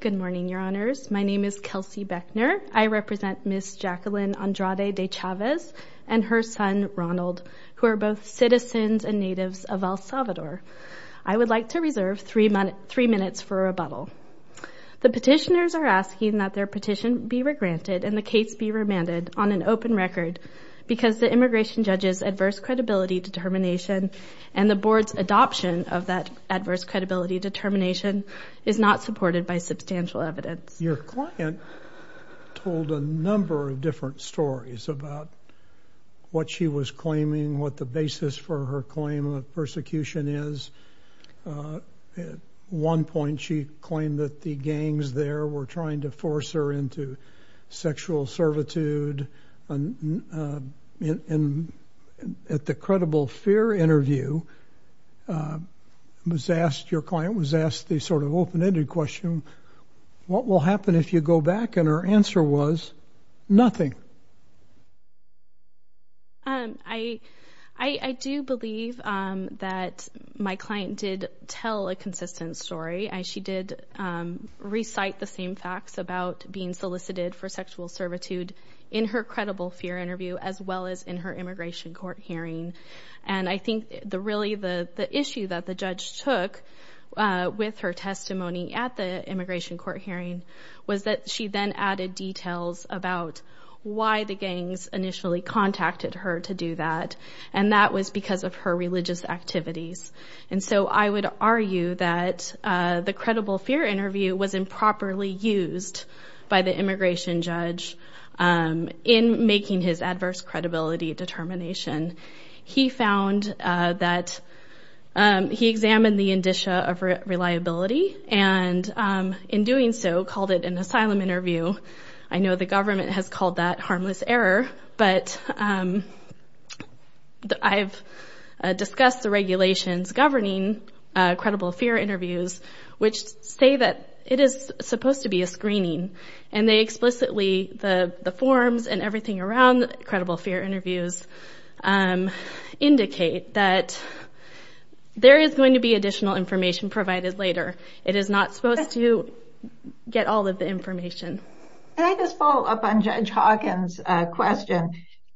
Good morning, Your Honors. My name is Kelsey Beckner. I represent Ms. Jacqueline Andrade de Chavez and her son, Ronald, who are both citizens and natives of El Salvador. I would like to reserve three minutes for rebuttal. The petitioners are asking that their petition be regranted and the case be remanded on an open record because the immigration judge's adverse credibility determination and the board's adoption of that adverse credibility determination is not supported by substantial evidence. Your client told a number of different stories about what she was claiming, what the basis for her claim of persecution is. At one point, she claimed that the gangs there were trying to force her into sexual servitude. At the credible fear interview, your client was asked the sort of open-ended question, what will happen if you go back? And her answer was nothing. I do believe that my client did tell a consistent story. She did recite the same facts about being solicited for sexual servitude in her credible fear interview as well as in her immigration court hearing. And I think really the issue that the judge took with her testimony at the immigration court hearing was that she then added details about why the gangs initially contacted her to do that. And that was because of her religious activities. And so I would argue that the credible fear interview was improperly used by the immigration judge in making his adverse credibility determination. He found that he examined the indicia of reliability and in doing so called it an asylum interview. I know the government has called that harmless error, but I've discussed the regulations governing credible fear interviews which say that it is supposed to be a screening. And they explicitly, the forms and everything around the credible fear interviews, indicate that there is going to be additional information provided later. It is not supposed to get all of the information. Can I just follow up on Judge Hawkins' question?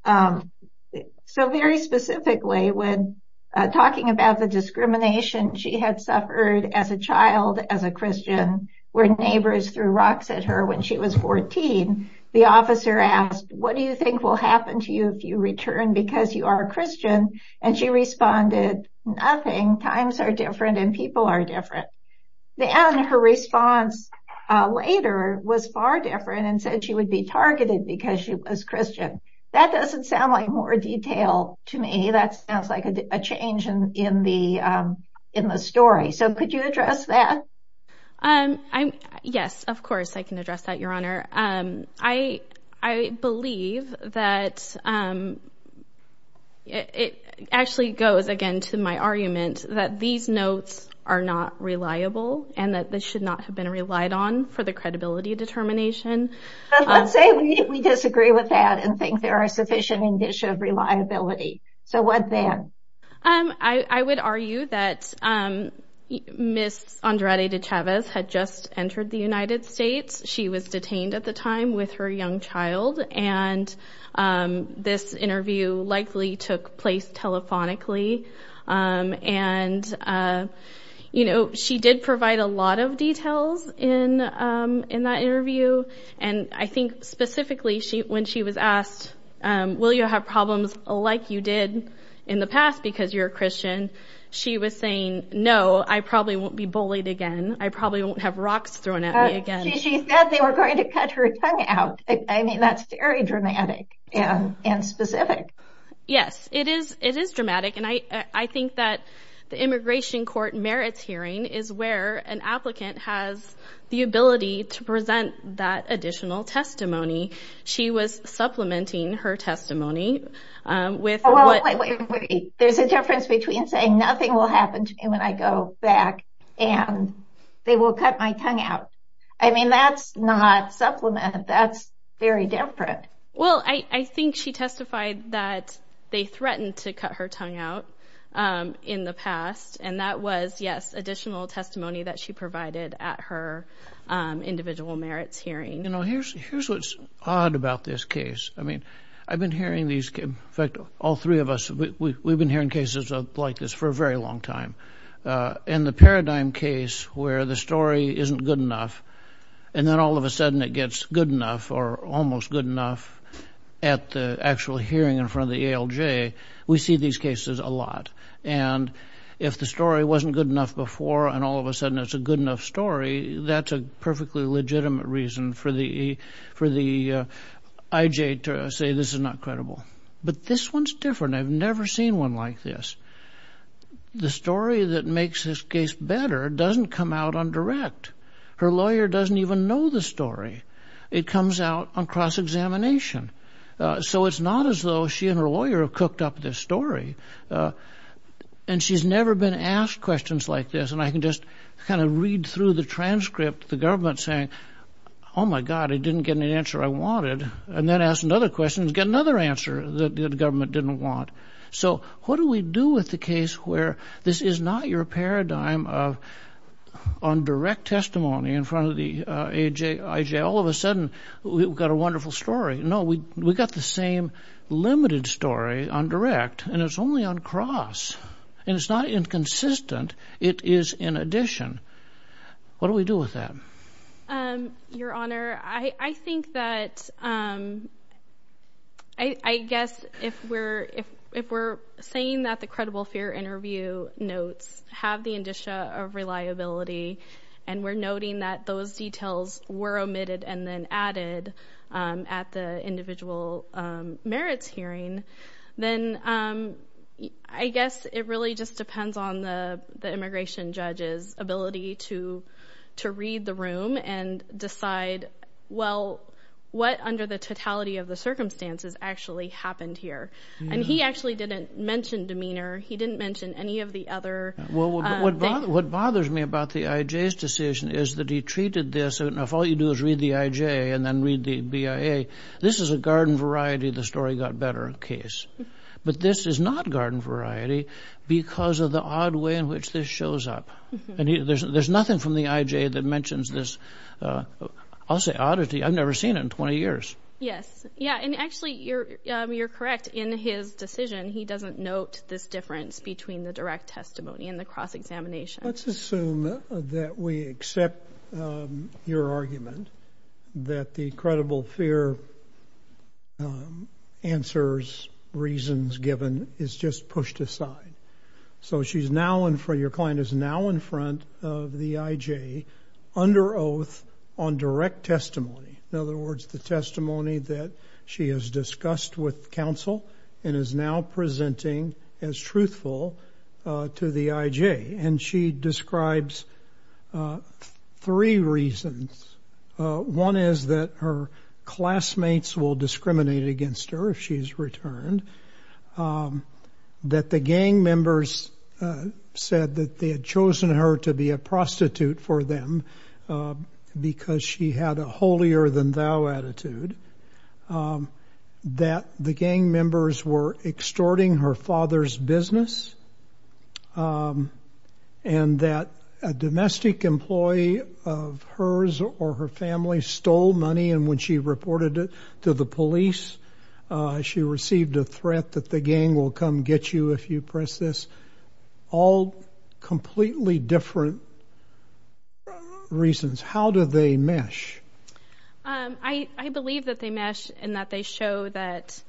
So very specifically, when talking about the discrimination she had suffered as a child, as a Christian, where neighbors threw rocks at her when she was 14, the officer asked, what do you think will happen to you if you return because you are a Christian? And she responded, nothing. Times are different and people are different. And her response later was far different and said she would be targeted because she was Christian. That doesn't sound like more detail to me. That sounds like a change in the story. So could you address that? Yes, of course, I can address that, Your Honor. I believe that it actually goes again to my notes are not reliable and that this should not have been relied on for the credibility determination. Let's say we disagree with that and think there are sufficient indicia of reliability. So what then? I would argue that Miss Andrade de Chavez had just entered the United States. She was detained at the time with her young child. And this interview likely took place telephonically. And, you know, she did provide a lot of details in that interview. And I think specifically she when she was asked, will you have problems like you did in the past because you're Christian? She was saying, no, I probably won't be bullied again. I probably won't have rocks thrown at me again. She said they were going to cut her tongue out. I mean, that's very dramatic and specific. Yes, it is. It is dramatic. And I think that the immigration court merits hearing is where an applicant has the ability to present that additional testimony. She was supplementing her testimony with... Wait, wait, wait. There's a difference between saying nothing will happen to me when I go back and they will cut my tongue out. I mean, that's not supplement. That's very different. Well, I think she testified that they threatened to cut her tongue out in the past. And that was, yes, additional testimony that she provided at her individual merits hearing. You know, here's what's odd about this case. I mean, I've been hearing these, in fact, all three of us, we've been hearing cases like this for a very long time. And the paradigm case where the story isn't good enough and then all of a sudden it gets good enough or almost good enough at the actual hearing in front of the ALJ, we see these cases a lot. And if the story wasn't good enough before and all of a sudden it's a good enough story, that's a perfectly legitimate reason for the IJ to say this is not credible. But this one's different. I've never seen one like this. The story that makes this case better doesn't come out on direct. Her lawyer doesn't even know the story. It comes out on cross-examination. So it's not as though she and her lawyer have cooked up this story. And she's never been asked questions like this. And I can just kind of read through the transcript, the government saying, oh, my God, I didn't get an answer I wanted, and then ask another question and get another answer that the government didn't want. So what do we do with the case where this is not your paradigm on direct testimony in a wonderful story? No, we got the same limited story on direct, and it's only on cross. And it's not inconsistent. It is in addition. What do we do with that? Your Honor, I think that I guess if we're saying that the credible fear interview notes have the indicia of reliability, and we're noting that those details were omitted and then added at the individual merits hearing, then I guess it really just depends on the immigration judge's ability to read the room and decide, well, what under the totality of the circumstances actually happened here? And he actually didn't mention demeanor. He didn't mention any of the other... Well, what bothers me about the IJ's decision is that he treated this... Now, if all you do is read the IJ and then read the BIA, this is a garden variety, the story got better case. But this is not garden variety because of the odd way in which this shows up. And there's nothing from the IJ that mentions this, I'll say, oddity. I've never seen it in 20 years. Yes. Yeah. And actually, you're correct. In his decision, he doesn't note this difference between the direct testimony and the cross-examination. Let's assume that we accept your argument that the credible fear answers reasons given is just pushed aside. So your client is now in front of the IJ under oath on direct testimony. In other words, the testimony that she has to the IJ. And she describes three reasons. One is that her classmates will discriminate against her if she's returned, that the gang members said that they had chosen her to be a prostitute for them because she had a holier-than-thou attitude, that the gang members were extorting her father's business, and that a domestic employee of hers or her family stole money and when she reported it to the police, she received a threat that the gang will come get you if you press this. All completely different reasons. How do they mesh? I believe that they mesh in that they show that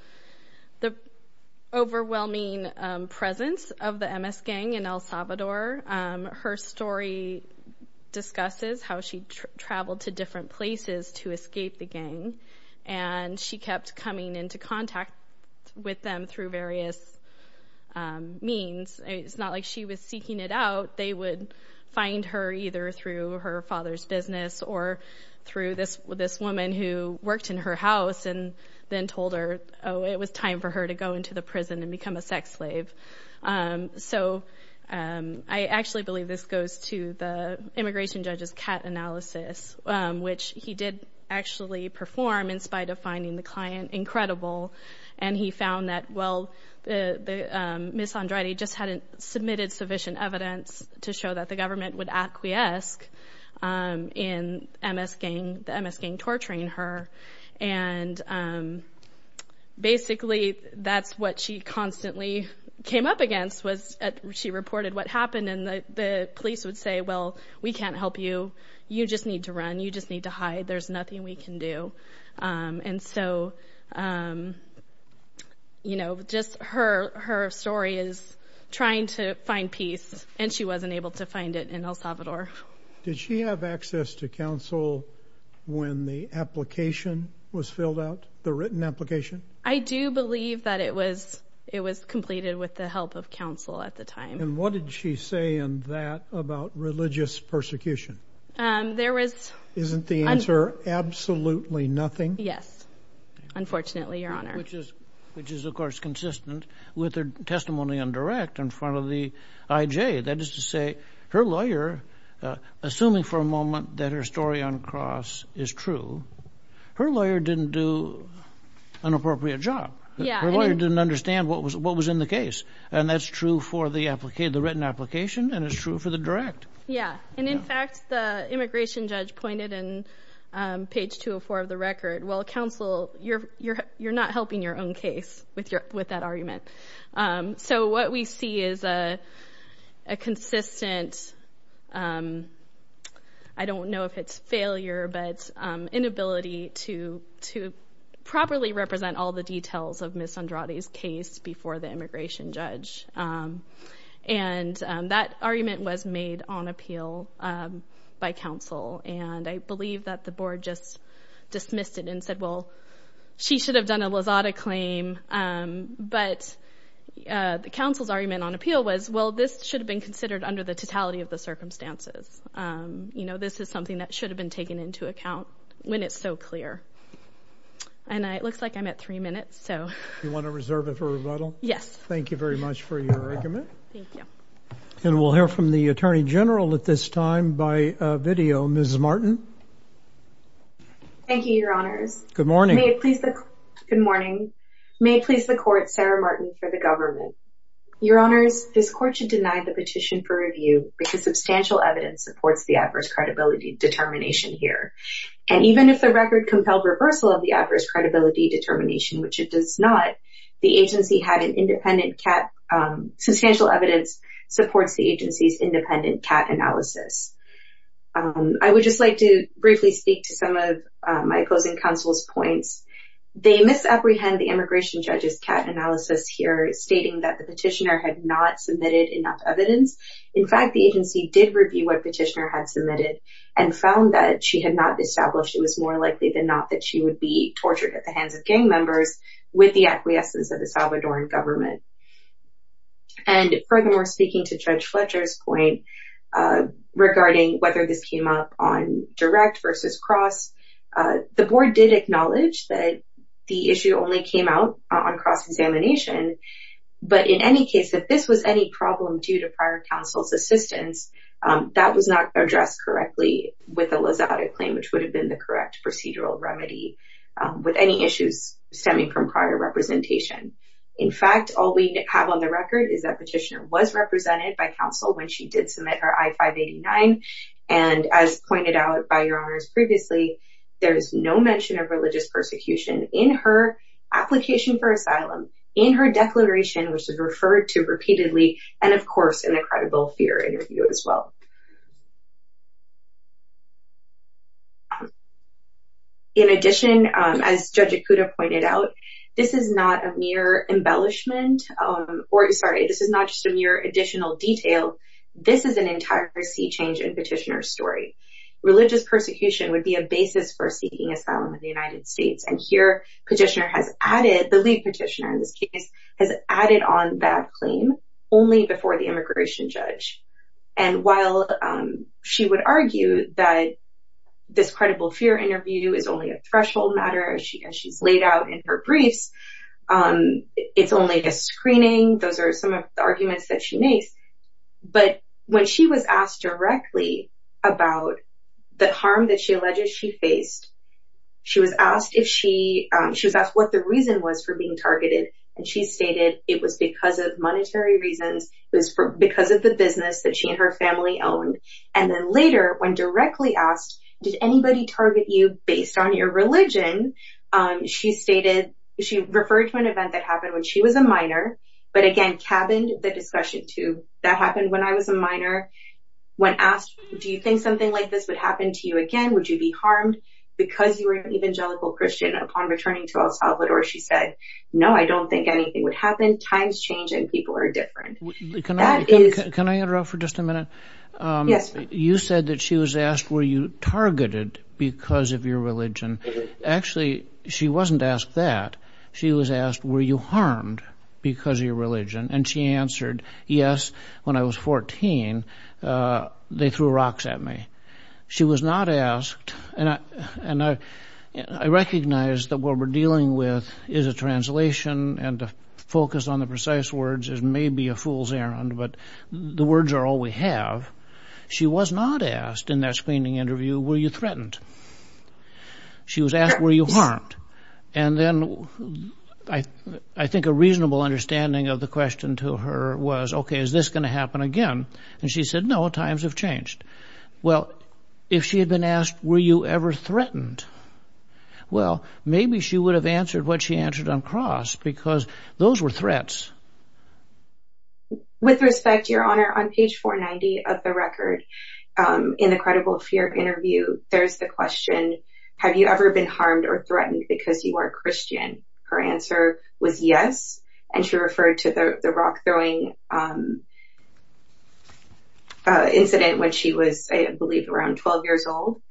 the overwhelming presence of the MS gang in El Salvador, her story discusses how she traveled to different places to escape the gang and she kept coming into contact with them through various means. It's not like she was seeking it out. They would find her either through her father's business or through this woman who worked in her house and then told her, oh, it was time for her to go into the prison and become a sex slave. So I actually believe this goes to the immigration judge's CAT analysis, which he did actually perform in spite of finding the client incredible and he found that, well, Ms. Andrade just hadn't submitted sufficient evidence to show that the government would acquiesce in the MS gang torturing her and basically that's what she constantly came up against was she reported what happened and the police would say, well, we can't help you. You just need to run. You just need to hide. There's nothing we can do. And so, you know, just her story is trying to find peace and she wasn't able to find it in El Salvador. Did she have access to counsel when the application was filled out, the written application? I do believe that it was completed with the help of counsel at the time. And what did she say in that about religious persecution? There was... Isn't the answer absolutely nothing? Yes, unfortunately, Your Honor. Which is, of course, consistent with her testimony on direct in front of the IJ. That is to say her lawyer, assuming for a moment that her story on cross is true, her lawyer didn't do an appropriate job. Her lawyer didn't understand what was in the case. And that's true for the application, the written application, and it's true for the direct. Yeah. And in fact, the immigration judge pointed in page 204 of the record, well, counsel, you're not helping your own case with that argument. So what we see is a consistent, I don't know if it's failure, but inability to properly represent all the details of Ms. And that argument was made on appeal by counsel. And I believe that the board just dismissed it and said, well, she should have done a Lazada claim. But the counsel's argument on appeal was, well, this should have been considered under the totality of the circumstances. This is something that should have been taken into account when it's so clear. And it looks like I'm at three minutes. You want to reserve it for rebuttal? Yes. Thank you very much for your argument. Thank you. And we'll hear from the attorney general at this time by video, Ms. Martin. Thank you, your honors. Good morning. Good morning. May it please the court, Sarah Martin for the government. Your honors, this court should deny the petition for review because substantial evidence supports the adverse credibility determination here. And even if the record compelled reversal of the adverse credibility determination, the independent cat substantial evidence supports the agency's independent cat analysis. I would just like to briefly speak to some of my opposing counsel's points. They misapprehend the immigration judge's cat analysis here, stating that the petitioner had not submitted enough evidence. In fact, the agency did review what petitioner had submitted and found that she had not established it was more likely than not that she would be tortured at the hands of gang members with the acquiescence of the Salvadoran government. And furthermore, speaking to Judge Fletcher's point regarding whether this came up on direct versus cross, the board did acknowledge that the issue only came out on cross-examination. But in any case, if this was any problem due to prior counsel's assistance, that was not addressed correctly with a Lizada claim, which would have been the correct procedural remedy with any issues stemming from prior representation. In fact, all we have on the record is that petitioner was represented by counsel when she did submit her I-589. And as pointed out by your honors previously, there is no mention of religious persecution in her application for asylum, in her declaration, which is referred to repeatedly, and of course, in the credible fear interview as well. In addition, as Judge Ikuda pointed out, this is not a mere embellishment, or sorry, this is not just a mere additional detail. This is an entire sea change in petitioner's story. Religious persecution would be a basis for seeking asylum in the United States. And here, petitioner has added on that claim only before the immigration judge. And while she would argue that this credible fear interview is only a threshold matter, as she's laid out in her briefs, it's only a screening, those are some of the arguments that she makes. But when she was asked directly about the harm that she alleges she faced, she was asked what the reason was for it was because of monetary reasons, it was because of the business that she and her family owned. And then later, when directly asked, did anybody target you based on your religion? She stated, she referred to an event that happened when she was a minor, but again, cabined the discussion to that happened when I was a minor. When asked, do you think something like this would happen to you again? Would you be harmed because you were an evangelical Christian upon returning to El Salvador? She said, no, I don't think anything would happen. Times change and people are different. Can I interrupt for just a minute? Yes. You said that she was asked, were you targeted because of your religion? Actually, she wasn't asked that. She was asked, were you harmed because of your religion? And she answered, yes, when I was 14, they threw rocks at me. She was not asked, and I recognize that what we're dealing with is a translation and to focus on the precise words is maybe a fool's errand, but the words are all we have. She was not asked in that screening interview, were you threatened? She was asked, were you harmed? And then I think a reasonable understanding of the question to her was, okay, is this going to happen again? And she said, no, times have changed. Well, if she had been asked, were you ever threatened? Well, maybe she would have answered what she answered on cross because those were threats. With respect, Your Honor, on page 490 of the record, in the credible fear interview, there's the question, have you ever been harmed or threatened because you are a Christian? Her answer was yes. And she referred to the rock-throwing incident when she was, I believe, around 12 years old.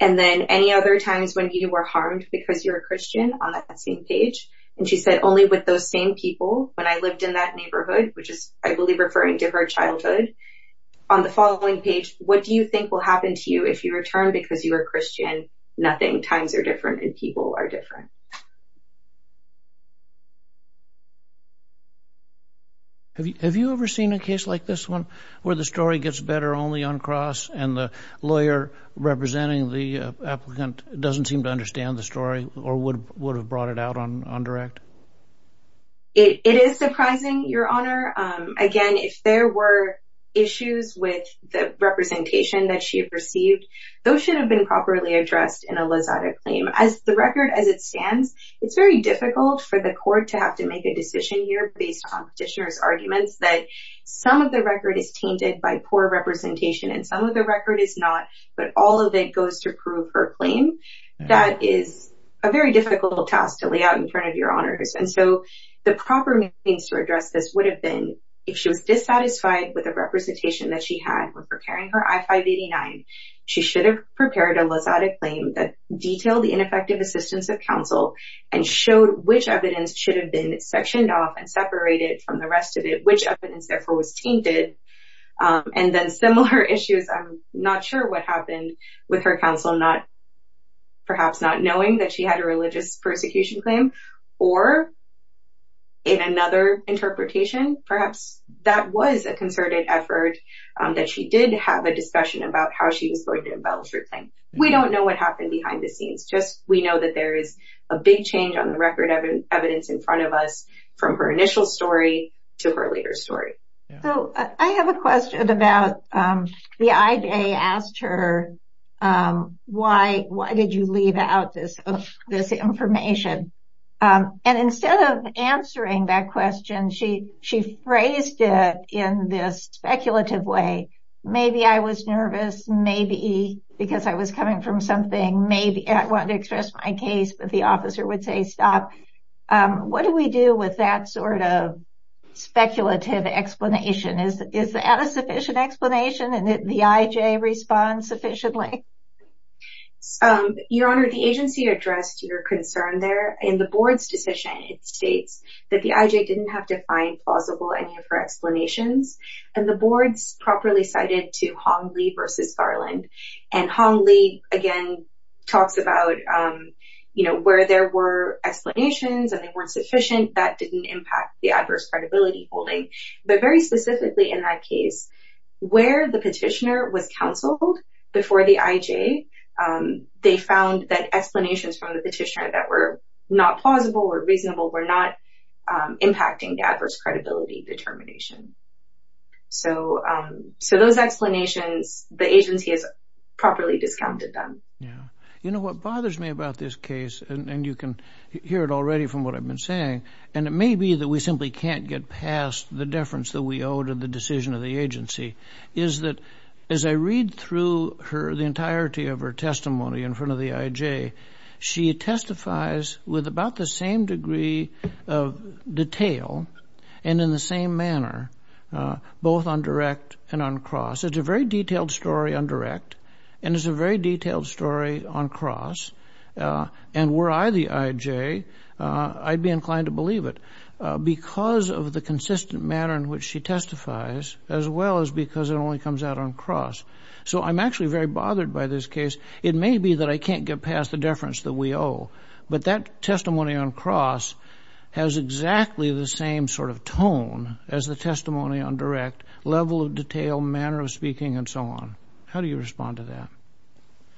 And then any other times when you were harmed because you were a Christian on that same page? And she said only with those same people when I lived in that neighborhood, which is, I believe, referring to her childhood. On the following page, what do you think will happen to you if you return because you are Christian? Nothing. Times are different and people are different. Have you ever seen a case like this one where the story gets better only on cross and the lawyer representing the applicant doesn't seem to understand the story or would have brought it out on direct? It is surprising, Your Honor. Again, if there were issues with the representation that she had received, those should have been properly addressed in a lasada claim. As the record, as it stands, it's very difficult for the court to have to make a decision here based on petitioner's arguments that some of the record is tainted by poor representation and some of the record is not, but all of it goes to prove her claim. That is a very difficult task to lay out in front of Your Honors. And so the proper means to address this would have been if she was dissatisfied with the representation that she had when preparing her I-589, she should have prepared a lasada claim that detailed the ineffective assistance of counsel and showed which evidence should have been sectioned off and separated from the rest of it, which evidence therefore was tainted. And then similar issues, I'm not sure what happened with her counsel, perhaps not knowing that she had a religious persecution claim or in another interpretation, perhaps that was a concerted effort that she did have a discussion about how she was going to embellish her claim. We don't know what happened behind the scenes, just we know that there is a big change on the record evidence in front of us from her initial story to her later story. So I have a question about the IJ asked her, why did you leave out this information? And instead of answering that question, she phrased it in this speculative way. Maybe I was nervous, maybe because I was coming from something, maybe I wanted to express my case, but the officer would say stop. What do we do with that sort of speculative explanation? Is that a sufficient explanation and the IJ responds sufficiently? Your Honor, the agency addressed your concern in the board's decision. It states that the IJ didn't have to find plausible any of her explanations and the board's properly cited to Hong Li versus Garland. And Hong Li again talks about, you know, where there were explanations and they weren't sufficient, that didn't impact the adverse credibility holding. But very specifically in that case, where the petitioner was counseled before the IJ, they found that explanations from the petitioner that were not plausible or reasonable were not impacting the adverse credibility determination. So those explanations, the agency has properly discounted them. Yeah. You know what bothers me about this case, and you can hear it already from what I've been saying, and it may be that we simply can't get past the deference that we owe to the decision of the agency, is that as I read through her, the entirety of her testimony in front of the IJ, she testifies with about the same degree of detail and in the same manner, both on direct and on cross. It's a very detailed story on direct, and it's a very detailed story on cross. And were I the IJ, I'd be inclined to believe it because of the consistent manner in which she testifies, as well as because it only comes out on cross. So I'm actually very bothered by this case. It may be that I can't get past the deference that we owe, but that testimony on cross has exactly the same sort of tone as the testimony on direct, level of detail, manner of speaking, and so on. How do you respond to that?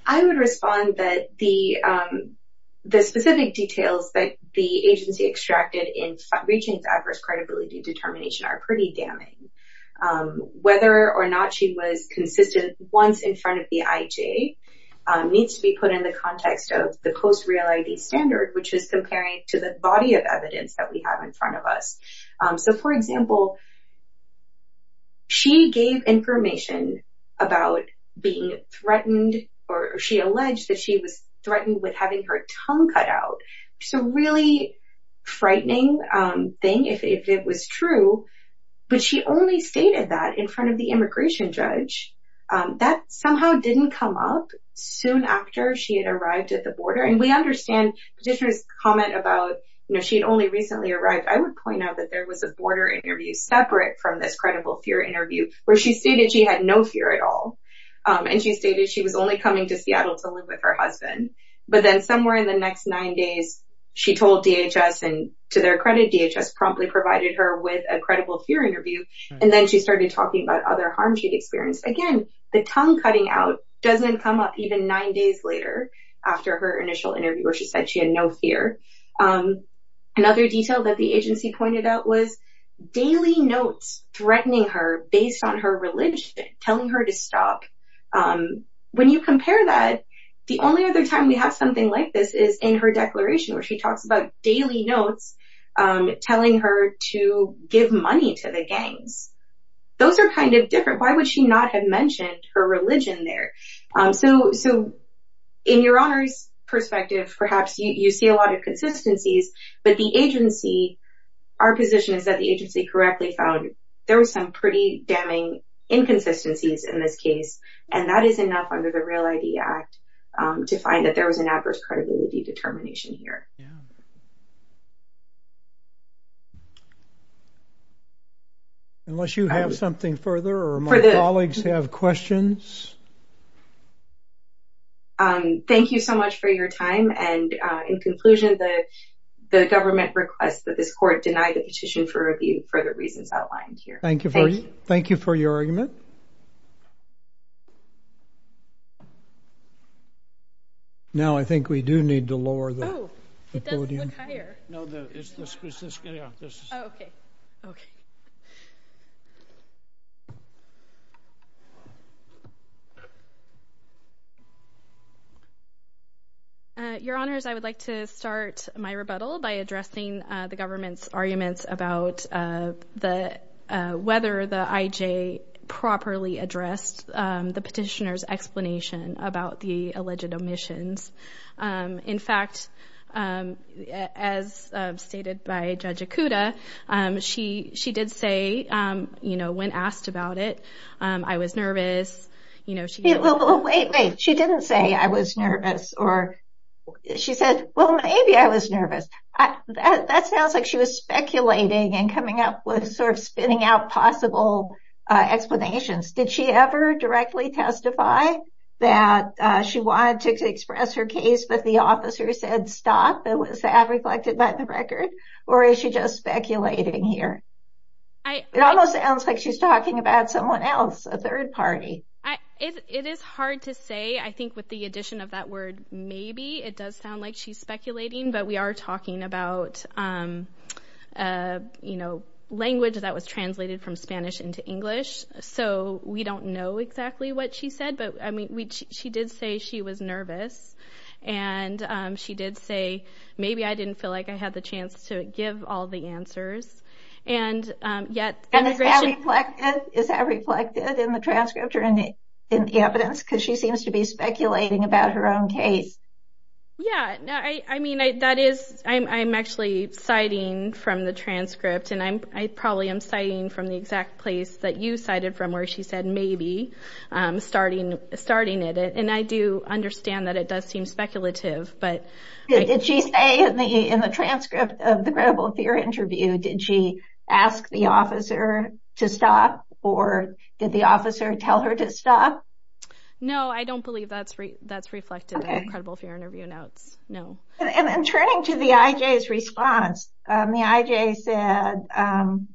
I would respond that the specific details that the agency extracted in reaching adverse credibility determination are pretty damning. Whether or not she was consistent once in front of the IJ needs to be put in the context of the post-reality standard, which is comparing to the body of evidence that we have in front of us. So for example, she gave information about being threatened, or she alleged that she was threatened with having her tongue cut out. It's a really frightening thing if it was true, but she only stated that in front of the immigration judge. That somehow didn't come up soon after she had arrived at the border. And we understand Petitioner's comment about, you know, she had only recently arrived. I would point out that there was a border interview separate from this credible fear interview, where she stated she had no fear at all. And she stated she was only coming to Seattle to live with her husband. But then somewhere in the next nine days, she told DHS, and to their credit, DHS promptly provided her with a credible fear interview. And then she started talking about other harms she'd experienced. Again, the tongue cutting out doesn't come up even nine days later, after her initial interview, where she said she had no fear. Another detail that the agency pointed out was daily notes threatening her based on her religion, telling her to stop. When you compare that, the only other time we have something like this is in her declaration, where she talks about daily notes, telling her to give money to the gangs. Those are kind of different. Why would she not have mentioned her religion there? So, in your honor's perspective, perhaps you see a lot of consistencies. But the agency, our position is that the agency correctly found there was some pretty damning inconsistencies in this case. And that is enough under the Real ID Act, to find that there was an adverse credibility determination here. Yeah. Unless you have something further, or my colleagues have questions. Thank you so much for your time. And in conclusion, the government requests that this court deny the petition for review for the reasons outlined here. Thank you for your argument. Now, I think we do need to lower the podium. Oh, it does look higher. No, it's this. Oh, okay. Your honors, I would like to start my rebuttal by addressing the government's arguments about the whether the IJ properly addressed the petitioner's explanation about the alleged omissions. In fact, as stated by Judge Ikuda, she did say, you know, when asked about it, I was nervous. You know, she didn't say I was nervous, or she said, well, maybe I was nervous. That sounds like she was speculating and coming up with sort of spinning out possible explanations. Did she ever directly testify that she wanted to express her case, but the officer said stop, it was reflected by the record? Or is she just speculating here? It almost sounds like she's talking about someone else, a third party. It is hard to say. I think with the addition of word maybe, it does sound like she's speculating, but we are talking about, you know, language that was translated from Spanish into English. So we don't know exactly what she said, but I mean, she did say she was nervous. And she did say, maybe I didn't feel like I had the chance to give all the answers. And yet, is that reflected in the transcript or in the evidence? Because she seems to be speculating about her own case. Yeah, I mean, that is, I'm actually citing from the transcript. And I probably am citing from the exact place that you cited from where she said, maybe, starting it. And I do understand that it does seem speculative. Did she say in the transcript of the credible fear interview, did she ask the officer to stop? Or did the officer tell her to stop? I don't believe that's reflected in the credible fear interview notes, no. And then turning to the IJ's response, the IJ said,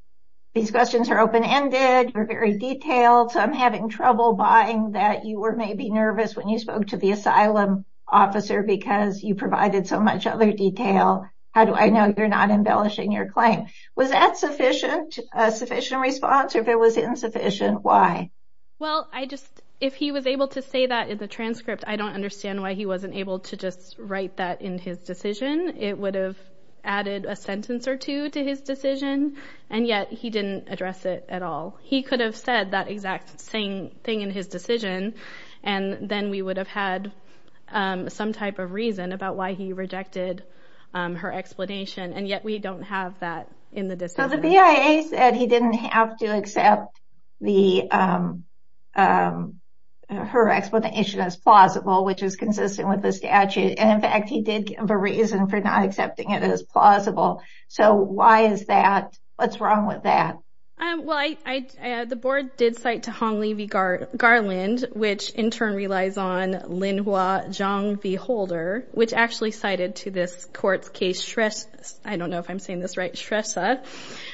these questions are open-ended, they're very detailed, so I'm having trouble buying that you were maybe nervous when you spoke to the asylum officer because you provided so much other detail. How do I know you're not embellishing your claim? Was that sufficient, a sufficient response, or if it was insufficient, why? Well, I just, if he was able to say that in the transcript, I don't understand why he wasn't able to just write that in his decision. It would have added a sentence or two to his decision, and yet he didn't address it at all. He could have said that exact same thing in his decision, and then we would have had some type of reason about why he rejected her explanation. And yet, we don't have that in the decision. So the BIA said he didn't have to accept her explanation as plausible, which is consistent with the statute, and in fact he did give a reason for not accepting it as plausible. So why is that? What's wrong with that? Well, the board did cite to Hong Lee v. Garland, which in turn relies on Lin Hua Zhang v. Holder, which actually cited to this court's I don't know if I'm saying this right, Shrestha,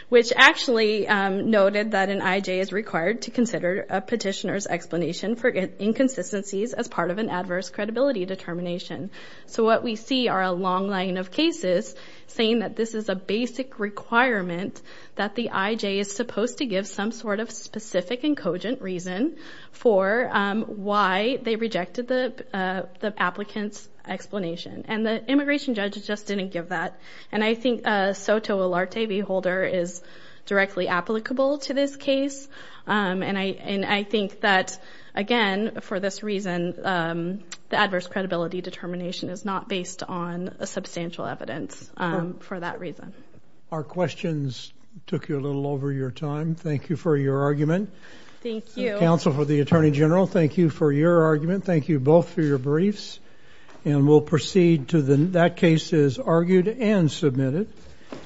which actually noted that an IJ is required to consider a petitioner's explanation for inconsistencies as part of an adverse credibility determination. So what we see are a long line of cases saying that this is a basic requirement that the IJ is supposed to give some sort of specific and cogent reason for why they rejected the applicant's explanation. And the immigration judge just didn't give that. And I think Soto Olarte v. Holder is directly applicable to this case. And I think that, again, for this reason, the adverse credibility determination is not based on substantial evidence for that reason. Our questions took you a little over your time. Thank you for your argument. Thank you. Counsel for the Attorney General, thank you for your argument. Thank you both for your briefs. And we'll proceed to that case is argued and submitted.